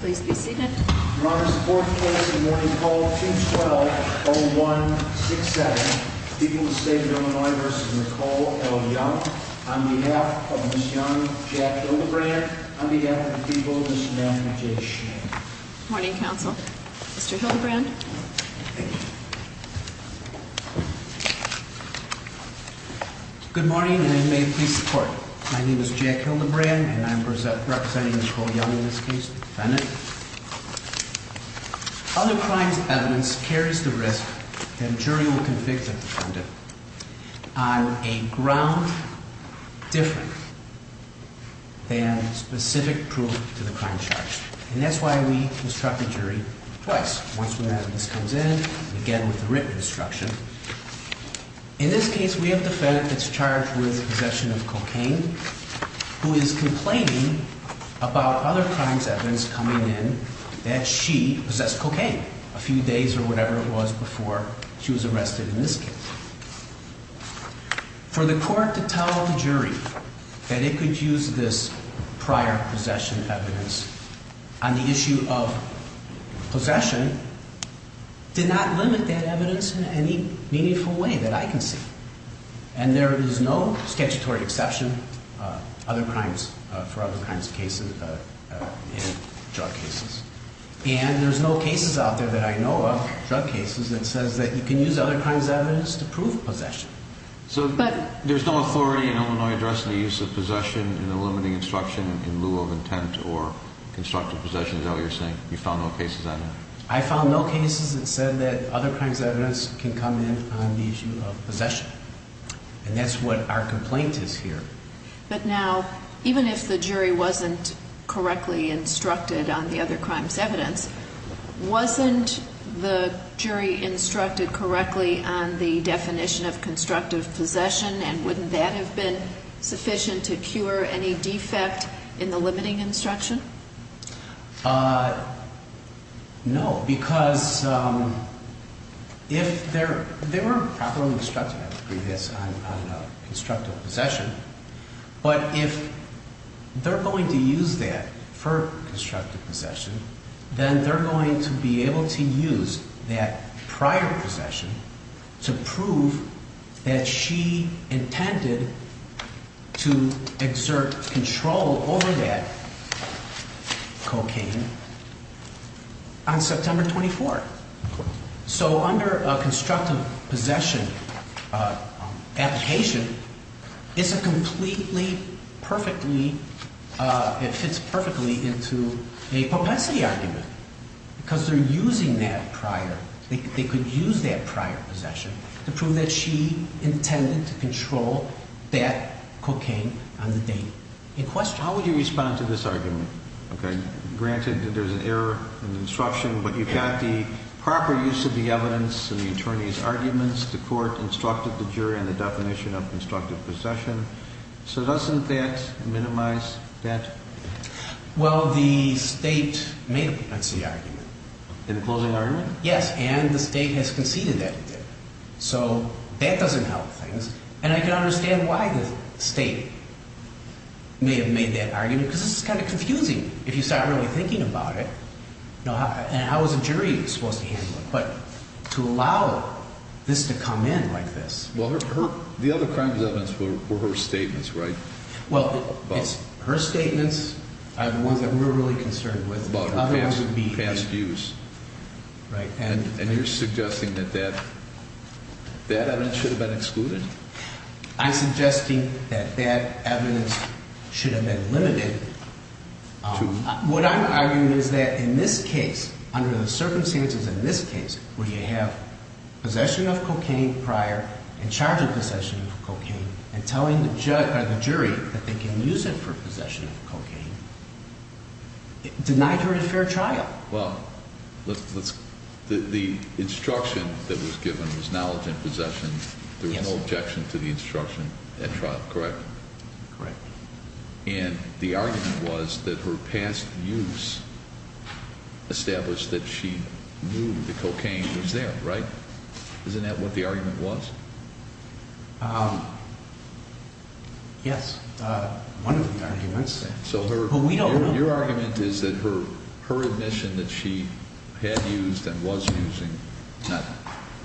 On behalf of the people, Mr. Matthew J. Schnee. Good morning, counsel. Mr. Hildebrand? Thank you. Good morning, and may it please the court. My name is Jack Hildebrand, and I'm representing Ms. Vole Young in this case, defendant. Other crimes' evidence carries the risk that a jury will convict a defendant on a ground different than specific proof to the crime charge. And that's why we instruct the jury twice, once when evidence comes in, and again with the written instruction. In this case, we have the defendant that's charged with possession of cocaine, who is complaining about other crimes' evidence coming in that she possessed cocaine a few days or whatever it was before she was arrested in this case. For the court to tell the jury that it could use this prior possession evidence on the issue of possession did not limit that evidence in any meaningful way that I can see. And there is no statutory exception for other crimes' cases in drug cases. And there's no cases out there that I know of, drug cases, that says that you can use other crimes' evidence to prove possession. So there's no authority in Illinois addressing the use of possession in the limiting instruction in lieu of intent or constructive possession, is that what you're saying? You found no cases on that? I found no cases that said that other crimes' evidence can come in on the issue of possession. And that's what our complaint is here. But now, even if the jury wasn't correctly instructed on the other crimes' evidence, wasn't the jury instructed correctly on the definition of constructive possession, and wouldn't that have been sufficient to cure any defect in the limiting instruction? No, because if they were properly instructed, I would agree with this, on constructive possession, but if they're going to use that for constructive possession, then they're going to be able to use that prior possession to prove that she intended to exert control over that prior possession. How would you respond to this argument? Okay. Granted that there's an error in the instruction, but you've got the proper use of the evidence and the attorney's arguments. The court instructed the jury on the definition of constructive possession. So doesn't that minimize that? Well, the state made a propensity argument. In the closing argument? Yes. And the state has conceded that it did. So that doesn't help things. And I can understand why the state may have made that argument, because this is kind of confusing, if you start really thinking about it. And how is a jury supposed to handle it? But to allow this to come in like this. Well, the other crimes' evidence were her statements, right? Well, her statements are the ones that we're really concerned with. About her past views. Right. And you're suggesting that that evidence should have been excluded? I'm suggesting that that evidence should have been limited. What I'm arguing is that in this case, under the circumstances in this case, where you have possession of cocaine prior and charge of possession of cocaine and telling the jury that they can use it for possession of cocaine, denied her a fair trial. Well, the instruction that was given was knowledge and possession. There was no objection to the instruction at trial, correct? Correct. And the argument was that her past views established that she knew the cocaine was there, right? Isn't that what the argument was? Yes. One of the arguments. Your argument is that her admission that she had used and was using, not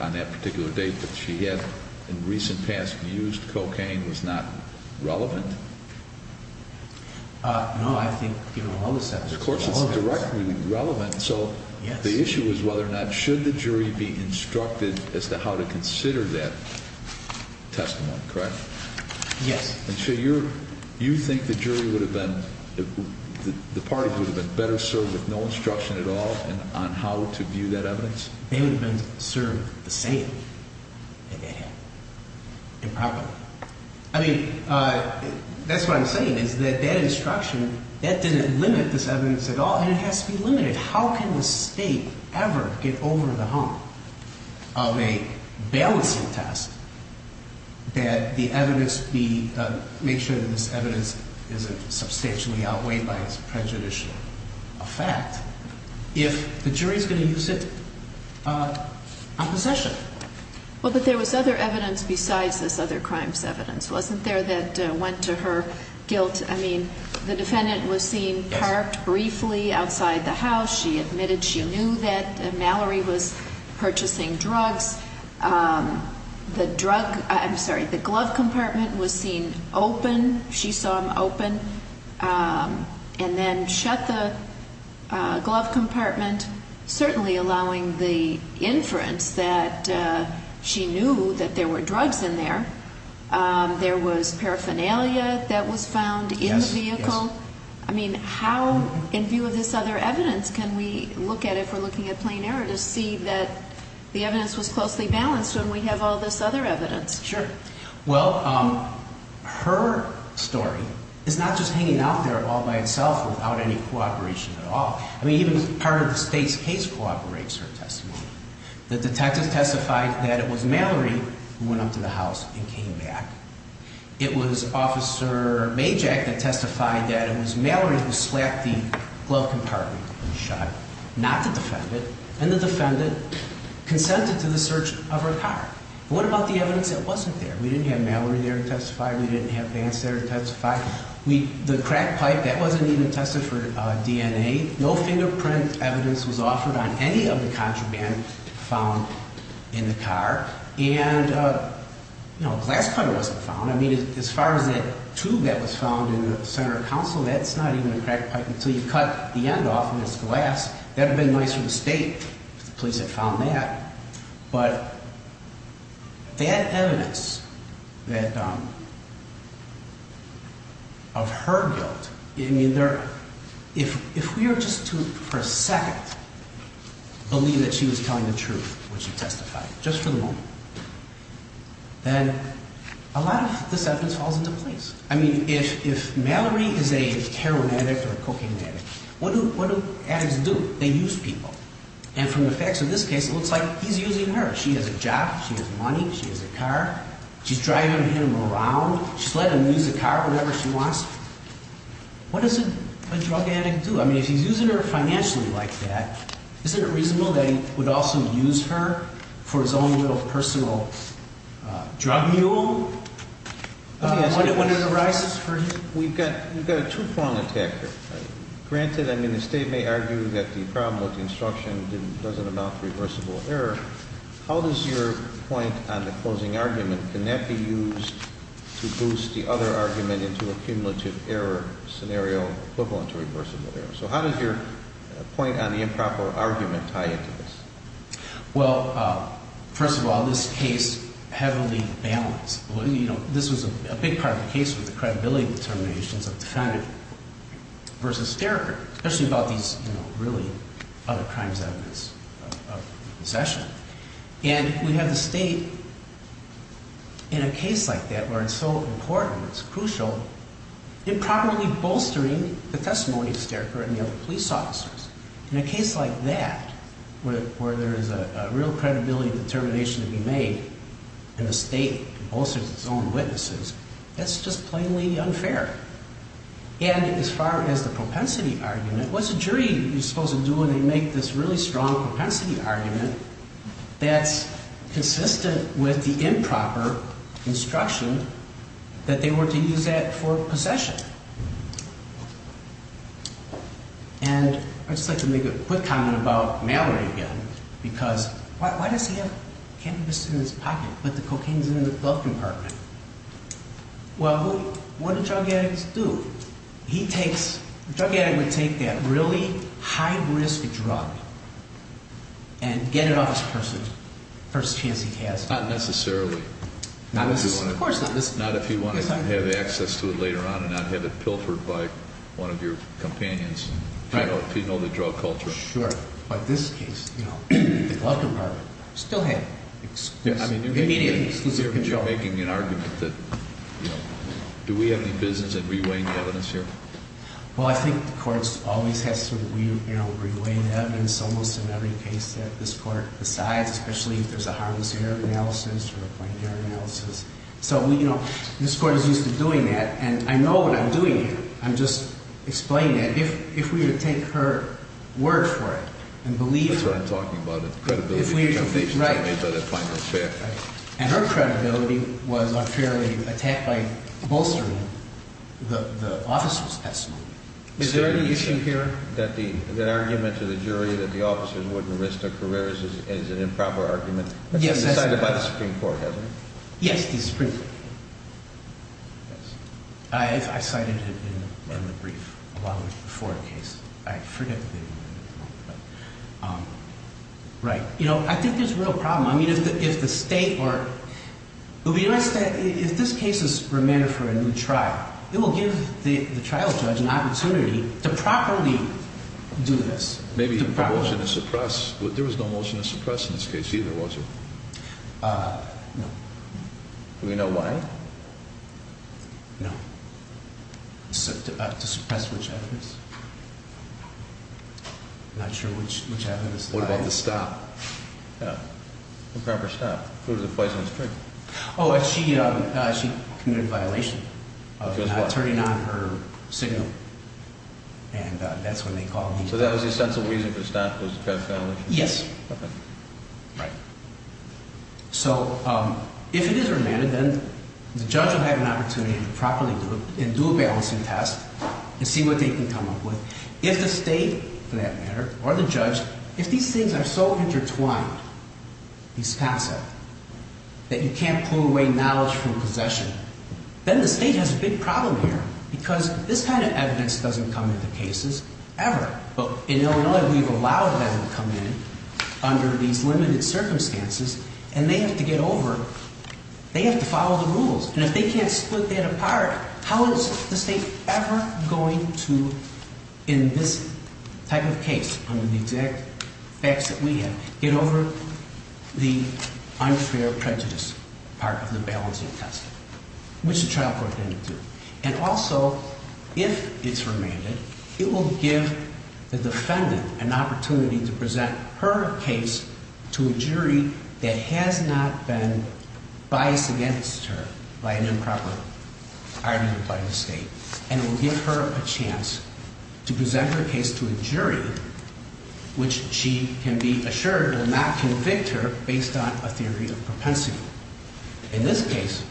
on that particular date, but she had in recent past views that cocaine was not relevant? No, I think given all this evidence. Of course it's not directly relevant. So the issue is whether or not should the jury be instructed as to how to consider that testimony, correct? Yes. And so you think the jury would have been, the parties would have been better served with no instruction at all on how to view that evidence? They would have been served the same, improperly. I mean, that's what I'm saying is that that instruction, that didn't limit this evidence at all, and it has to be limited. How can the state ever get over the hump of a balancing test that the evidence be, make sure that this evidence isn't substantially outweighed by its prejudicial effect, if the jury is going to use it on possession? Well, but there was other evidence besides this other crimes evidence, wasn't there, that went to her guilt? I mean, the defendant was seen parked briefly outside the house. She admitted she knew that Mallory was purchasing drugs. The drug, I'm sorry, the glove compartment was seen open. She saw him open and then shut the glove compartment, certainly allowing the inference that she knew that there were drugs in there. There was paraphernalia that was found in the vehicle. I mean, how, in view of this other evidence, can we look at it, if we're looking at plain error, to see that the evidence was closely balanced when we have all this other evidence? Sure. Well, her story is not just hanging out there all by itself without any cooperation at all. I mean, even part of the state's case cooperates her testimony. The detective testified that it was Mallory who went up to the house and came back. It was Officer Majak that testified that it was Mallory who slapped the glove compartment and shut, not the defendant, and the defendant consented to the search of her car. What about the evidence that wasn't there? We didn't have Mallory there to testify. We didn't have Vance there to testify. The crack pipe, that wasn't even tested for DNA. No fingerprint evidence was offered on any of the contraband found in the car. And, you know, a glass cutter wasn't found. I mean, as far as that tube that was found in the center of counsel, that's not even a crack pipe until you cut the end off and it's glass. That would have been nice for the state if the police had found that. But they had evidence of her guilt. I mean, if we were just to, for a second, believe that she was telling the truth when she testified, just for the moment, then a lot of this evidence falls into place. I mean, if Mallory is a heroin addict or a cocaine addict, what do addicts do? They use people. And from the facts of this case, it looks like he's using her. She has a job. She has money. She has a car. She's driving him around. She's letting him use the car whenever she wants. What does a drug addict do? I mean, if he's using her financially like that, isn't it reasonable that he would also use her for his own little personal drug mule? When it arises for him? We've got a two-pronged attack here. Granted, I mean, the state may argue that the problem with the instruction doesn't amount to reversible error. How does your point on the closing argument, can that be used to boost the other argument into a cumulative error scenario equivalent to reversible error? So how does your point on the improper argument tie into this? Well, first of all, this case heavily balanced. This was a big part of the case with the credibility determinations of Defendant v. Sterker, especially about these really other crimes evidence of possession. And we have the state in a case like that where it's so important, it's crucial, improperly bolstering the testimony of Sterker and the other police officers. In a case like that, where there is a real credibility determination to be made, and the state bolsters its own witnesses, that's just plainly unfair. And as far as the propensity argument, what's a jury supposed to do when they make this really strong propensity argument that's consistent with the improper instruction that they were to use that for possession? And I'd just like to make a quick comment about Mallory again, because why does he have cannabis in his pocket, but the cocaine's in the glove compartment? Well, who, what do drug addicts do? He takes, a drug addict would take that really high risk drug and get it off his person, first chance he has. Not necessarily. Of course not. Not if he wanted to have access to it later on and not have it pilfered by one of your companions. Right. If you know the drug culture. Sure. But this case, you know, the glove compartment still had immediate control. You're making an argument that, you know, do we have any business in re-weighing the evidence here? Well, I think the courts always have to, you know, re-weigh the evidence almost in every case that this court decides, especially if there's a harmless error analysis or a plain error analysis. So, you know, this court is used to doing that. And I know what I'm doing here. I'm just explaining that. If we were to take her word for it and believe her. That's what I'm talking about. Credibility. Right. And her credibility was unfairly attacked by bolstering the officers. Is there any issue here? That the argument to the jury that the officers wouldn't risk their careers is an improper argument. Yes. Decided by the Supreme Court, hasn't it? Yes, the Supreme Court. Yes. I cited it in the brief a while before the case. I forget the name of it. Right. You know, I think there's a real problem. I mean, if the state were, if this case is remanded for a new trial, it will give the trial judge an opportunity to properly do this. Maybe a motion to suppress. There was no motion to suppress in this case either, was there? No. Do we know why? No. To suppress which evidence? I'm not sure which evidence. What about the stop? Yeah. Improper stop. Prove the poison was true. Oh, she committed a violation. Of what? Of not turning on her signal. And that's when they called these people. So that was the essential reason for the stop was to suppress the violation? Yes. Okay. Right. So, if it is remanded, then the judge will have an opportunity to properly do it and do a balancing test and see what they can come up with. If the state, for that matter, or the judge, if these things are so intertwined, these concepts, that you can't pull away knowledge from possession, then the state has a big problem here. Because this kind of evidence doesn't come into cases ever. In Illinois, we've allowed them to come in under these limited circumstances, and they have to get over, they have to follow the rules. And if they can't split that apart, how is the state ever going to, in this type of case, under the exact facts that we have, get over the unfair prejudice part of the balancing test? Which the trial court didn't do. And also, if it's remanded, it will give the defendant an opportunity to present her case to a jury that has not been biased against her by an improper argument by the state. And it will give her a chance to present her case to a jury which she can be assured will not convict her based on a theory of propensity. In this case,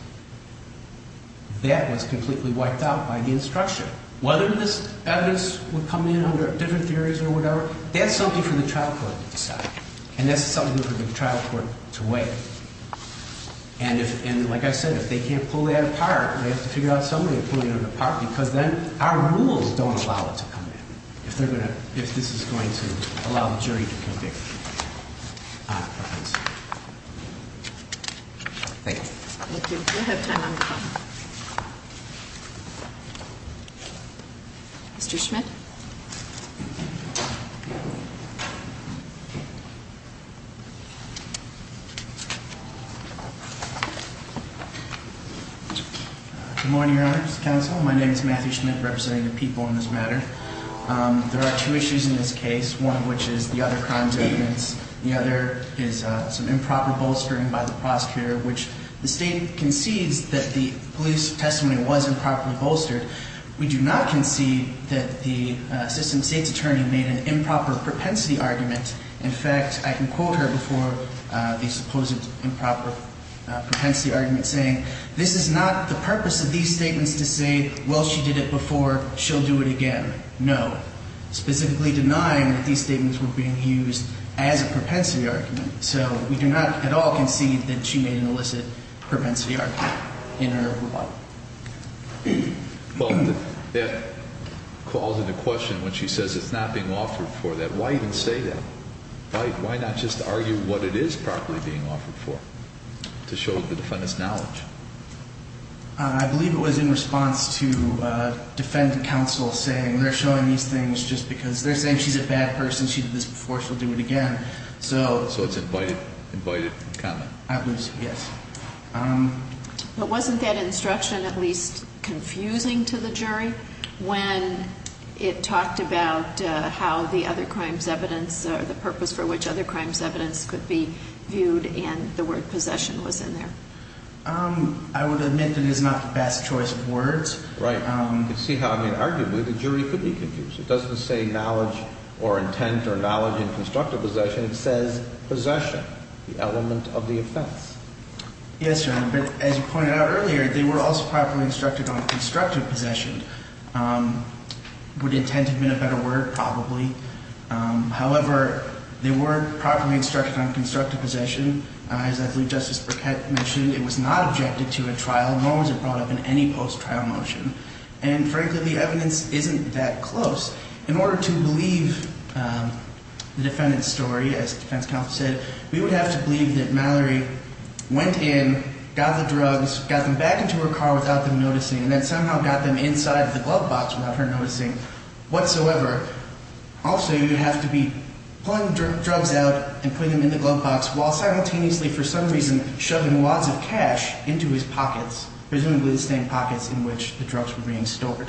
that was completely wiped out by the instruction. Whether this evidence would come in under different theories or whatever, that's something for the trial court to decide. And that's something for the trial court to weigh. And like I said, if they can't pull that apart, they have to figure out some way of pulling it apart, because then our rules don't allow it to come in, if this is going to allow the jury to convict. Thanks. Thank you. We'll have time on the phone. Mr. Schmidt? Good morning, Your Honor, Mr. Counsel. My name is Matthew Schmidt, representing the people on this matter. There are two issues in this case, one of which is the other crime statements. The other is some improper bolstering by the prosecutor, which the state concedes that the police testimony was improperly bolstered. We do not concede that the assistant state's attorney made an improper propensity argument. In fact, I can quote her before the supposed improper propensity argument, saying, this is not the purpose of these statements to say, well, she did it before, she'll do it again. No. Specifically denying that these statements were being used as a propensity argument. So we do not at all concede that she made an illicit propensity argument in her law. Well, that calls into question when she says it's not being offered for that. Why even say that? Why not just argue what it is properly being offered for? To show the defendant's knowledge. I believe it was in response to defendant counsel saying they're showing these things just because they're saying she's a bad person, she did this before, she'll do it again. So it's invited comment. I believe so, yes. But wasn't that instruction at least confusing to the jury when it talked about how the other crimes evidence, the purpose for which other crimes evidence could be viewed and the word possession was in there? I would admit that it is not the best choice of words. You can see how, I mean, arguably the jury could be confused. It doesn't say knowledge or intent or knowledge in constructive possession. It says possession, the element of the offense. Yes, Your Honor, but as you pointed out earlier, they were also properly instructed on constructive possession. Would intent have been a better word? Probably. However, they were properly instructed on constructive possession. As I believe Justice Burkett mentioned, it was not objected to at trial, nor was it brought up in any post-trial motion. And frankly, the evidence isn't that close. In order to believe the defendant's story, as the defense counsel said, we would have to believe that Mallory went in, got the drugs, got them back into her car without them noticing, and then somehow got them inside the glove box without her noticing whatsoever. Also, you would have to be pulling drugs out and putting them in the glove box while simultaneously for some reason shoving wads of cash into his pockets, presumably the same pockets in which the drugs were being stored.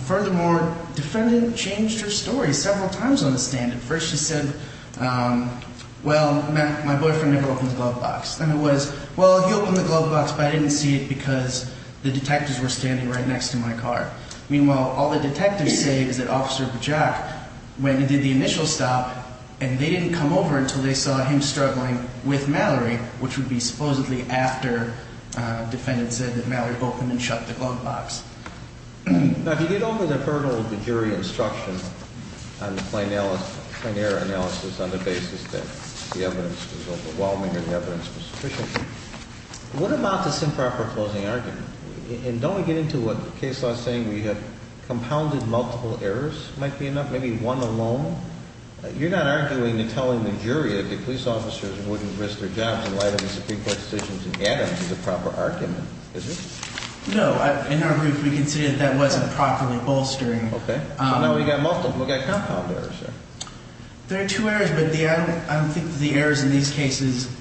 Furthermore, the defendant changed her story several times on the stand. At first she said, well, my boyfriend never opened the glove box. Then it was, well, he opened the glove box, but I didn't see it because the detectives were standing right next to my car. Meanwhile, all the detectives say is that Officer Bajack went and did the initial stop, and they didn't come over until they saw him struggling with Mallory, which would be supposedly after the defendant said that Mallory opened and shut the glove box. Now, if you get over the hurdle of the jury instruction on the plain error analysis on the basis that the evidence was overwhelming or the evidence was sufficient, what about this improper closing argument? And don't we get into what the case law is saying where you have compounded multiple errors might be enough, maybe one alone? You're not arguing and telling the jury that the police officers wouldn't risk their jobs in light of the Supreme Court decisions in Adams as a proper argument, is it? No. In our group, we consider that that wasn't properly bolstering. Okay. So now we've got compound errors there. There are two errors, but I don't think the errors in these cases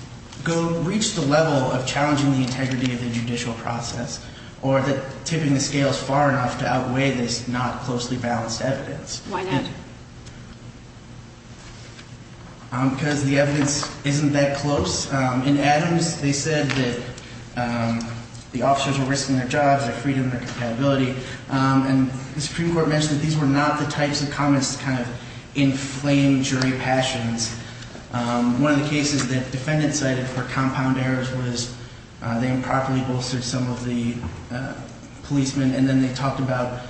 reach the level of challenging the integrity of the judicial process or tipping the scales far enough to outweigh this not closely balanced evidence. Why not? Because the evidence isn't that close. In Adams, they said that the officers were risking their jobs, their freedom, their compatibility. And the Supreme Court mentioned that these were not the types of comments to kind of inflame jury passions. One of the cases that defendants cited for compound errors was they improperly bolstered some of the policemen, and then they talked about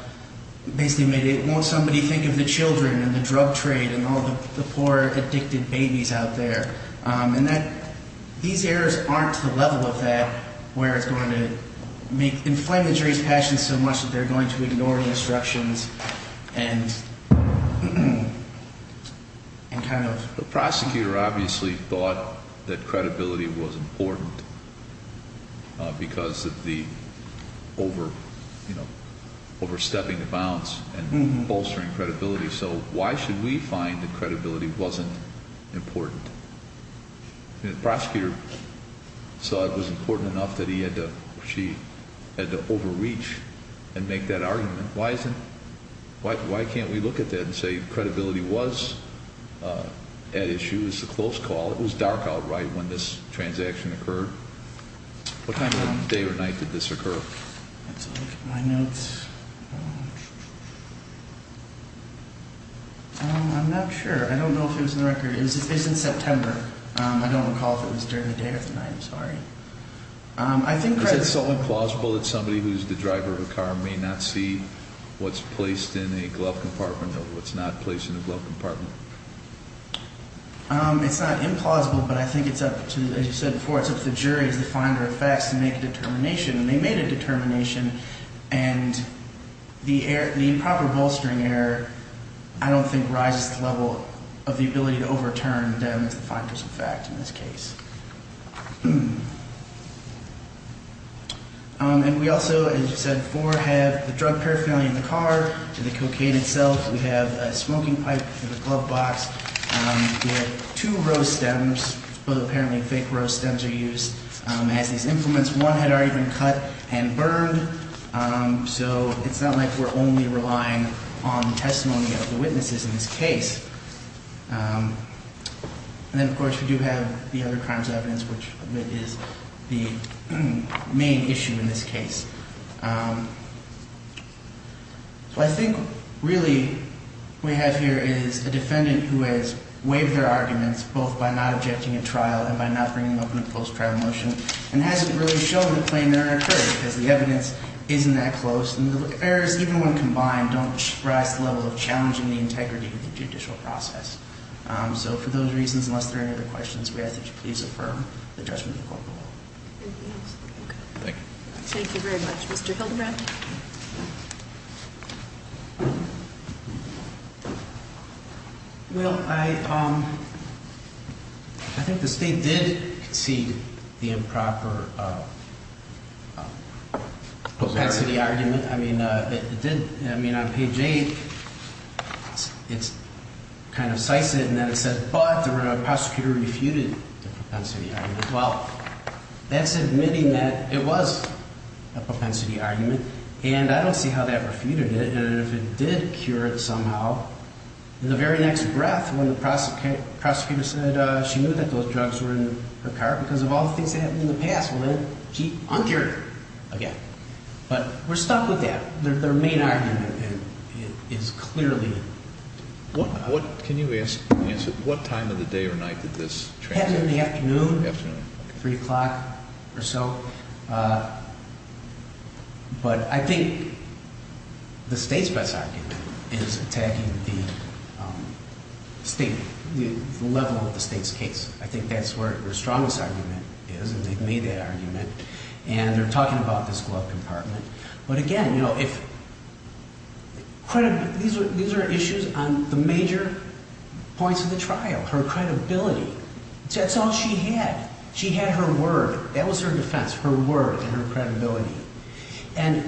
basically made it, won't somebody think of the children and the drug trade and all the poor addicted babies out there? And these errors aren't to the level of that where it's going to inflame the jury's passions so much that they're going to ignore instructions and kind of. The prosecutor obviously thought that credibility was important because of the overstepping the bounds and bolstering credibility. So why should we find that credibility wasn't important? The prosecutor saw it was important enough that he had to overreach and make that argument. Why can't we look at that and say credibility was at issue? It was a close call. It was dark outright when this transaction occurred. What time of day or night did this occur? I'm not sure. I don't know if it was in the record. It's in September. I don't recall if it was during the day or the night. I'm sorry. Is it solely plausible that somebody who's the driver of a car may not see what's placed in a glove compartment or what's not placed in a glove compartment? It's not implausible, but I think it's up to, as you said before, it's up to the jury as the finder of facts to make a determination. And they made a determination. And the improper bolstering error I don't think rises to the level of the ability to overturn them as the finder of facts in this case. And we also, as you said before, have the drug paraphernalia in the car, the cocaine itself. We have a smoking pipe in the glove box. We have two rose stems. Both apparently fake rose stems are used as these implements. One had already been cut and burned. So it's not like we're only relying on testimony of the witnesses in this case. And then, of course, we do have the other crimes of evidence, which is the main issue in this case. So I think really what we have here is a defendant who has waived their arguments both by not objecting at trial and by not bringing up a post-trial motion and hasn't really shown a claim that occurred because the evidence isn't that close. And the errors, even when combined, don't rise to the level of challenging the integrity of the judicial process. So for those reasons, unless there are any other questions, we ask that you please affirm the judgment of the court. Thank you. Thank you very much. Mr. Hildebrand? Well, I think the state did concede the improper propensity argument. I mean, it did. I mean, on page 8, it kind of cites it, and then it says, but the prosecutor refuted the propensity argument. Well, that's admitting that it was a propensity argument, and I don't see how that refuted it. And if it did cure it somehow, in the very next breath when the prosecutor said she knew that those drugs were in her car because of all the things that happened in the past, well, then she uncured it again. But we're stuck with that. Their main argument is clearly improper. Can you answer at what time of the day or night did this transpire? It happened in the afternoon, 3 o'clock or so. But I think the state's best argument is attacking the level of the state's case. I think that's where their strongest argument is, and they've made that argument. And they're talking about this glove compartment. But again, these are issues on the major points of the trial, her credibility. That's all she had. She had her word. That was her defense, her word and her credibility. And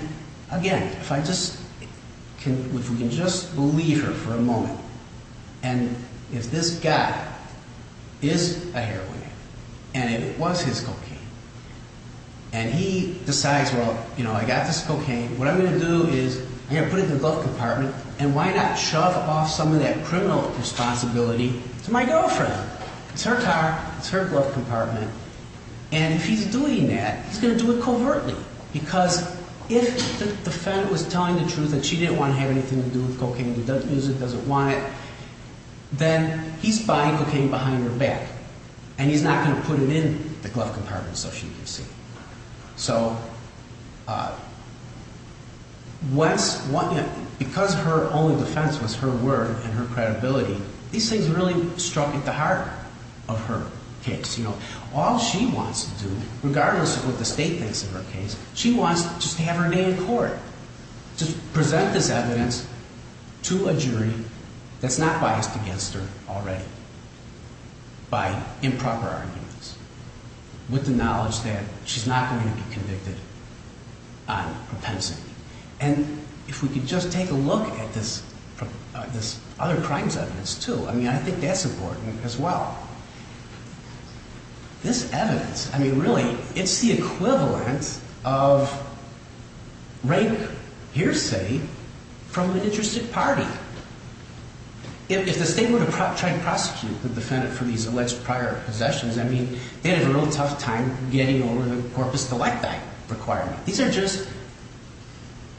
again, if we can just believe her for a moment, and if this guy is a heroin addict, and it was his cocaine, and he decides, well, you know, I got this cocaine. What I'm going to do is I'm going to put it in the glove compartment, and why not shove off some of that criminal responsibility to my girlfriend? It's her car. It's her glove compartment. And if he's doing that, he's going to do it covertly, because if the defendant was telling the truth that she didn't want to have anything to do with cocaine, doesn't use it, doesn't want it, then he's buying cocaine behind her back, and he's not going to put it in the glove compartment so she can see. So because her only defense was her word and her credibility, these things really struck at the heart of her case. All she wants to do, regardless of what the state thinks of her case, is present this evidence to a jury that's not biased against her already by improper arguments, with the knowledge that she's not going to be convicted on propensity. And if we could just take a look at this other crimes evidence, too, I mean, I think that's important as well. This evidence, I mean, really, it's the equivalent of rape hearsay from an interested party. If the state were to try to prosecute the defendant for these alleged prior possessions, I mean, they had a real tough time getting over the corpus delicti requirement. These are just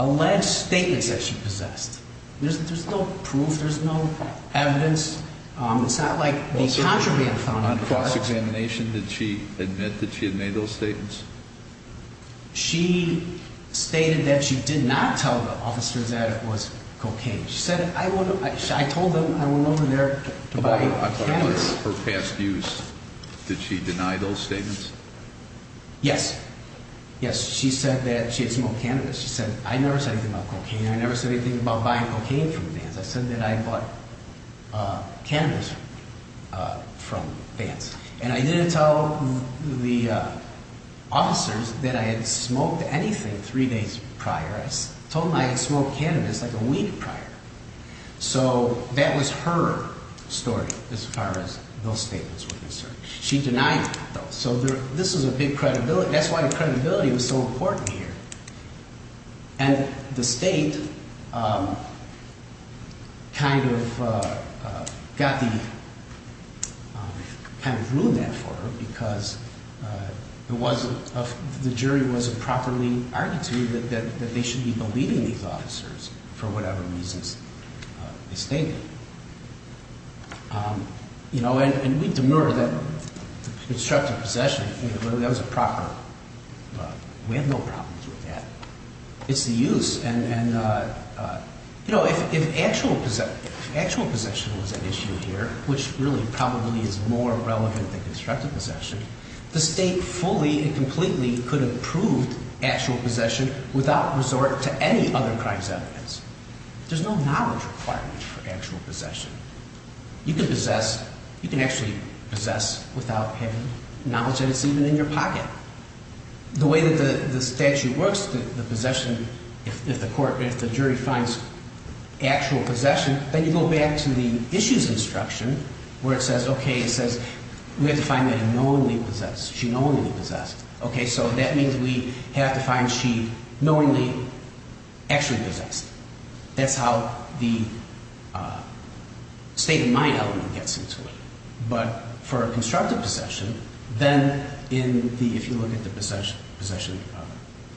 alleged statements that she possessed. There's no proof. There's no evidence. It's not like the contraband found on the car. On cross-examination, did she admit that she had made those statements? She stated that she did not tell the officers that it was cocaine. She said, I told them I went over there to buy cannabis. About her past use, did she deny those statements? Yes. Yes, she said that she had smoked cannabis. She said, I never said anything about cocaine. I never said anything about buying cocaine from vans. I said that I bought cannabis from vans. And I didn't tell the officers that I had smoked anything three days prior. I told them I had smoked cannabis like a week prior. So that was her story as far as those statements were concerned. She denied those. So this is a big credibility. That's why credibility was so important here. And the State kind of ruined that for her because the jury wasn't properly argued to that they should be believing these officers for whatever reasons they stated. You know, and we demerit that constructive possession. That was a proper, we have no problems with that. It's the use. And, you know, if actual possession was an issue here, which really probably is more relevant than constructive possession, the State fully and completely could have proved actual possession without resort to any other crimes evidence. There's no knowledge requirement for actual possession. You can possess, you can actually possess without having knowledge that it's even in your pocket. The way that the statute works, the possession, if the court, if the jury finds actual possession, then you go back to the issues instruction where it says, okay, it says we have to find that knowingly possessed. She knowingly possessed. Okay, so that means we have to find she knowingly actually possessed. That's how the state of mind element gets into it. But for a constructive possession, then in the, if you look at the possession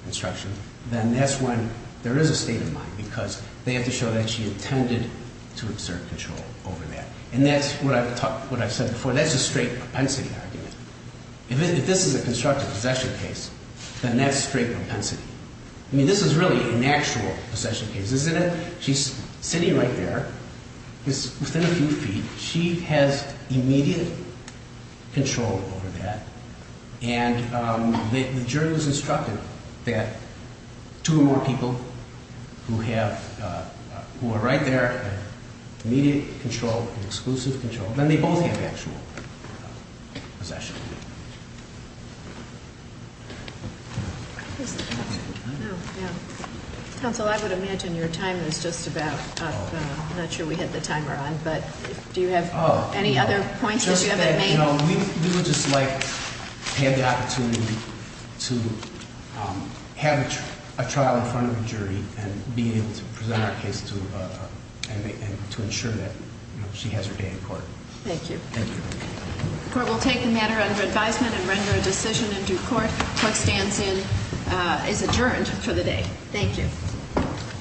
instruction, then that's when there is a state of mind because they have to show that she intended to exert control over that. And that's what I've said before. That's a straight propensity argument. If this is a constructive possession case, then that's straight propensity. I mean, this is really an actual possession case, isn't it? She's sitting right there. It's within a few feet. She has immediate control over that. And the jury was instructed that two or more people who have, who are right there, immediate control, exclusive control, then they both have actual possession. Counsel, I would imagine your time is just about up. I'm not sure we had the timer on, but do you have any other points that you haven't made? We would just like to have the opportunity to have a trial in front of a jury and be able to present our case and to ensure that she has her day in court. Thank you. Thank you. The court will take the matter under advisement and render a decision in due court. The court stands in, is adjourned for the day. Thank you.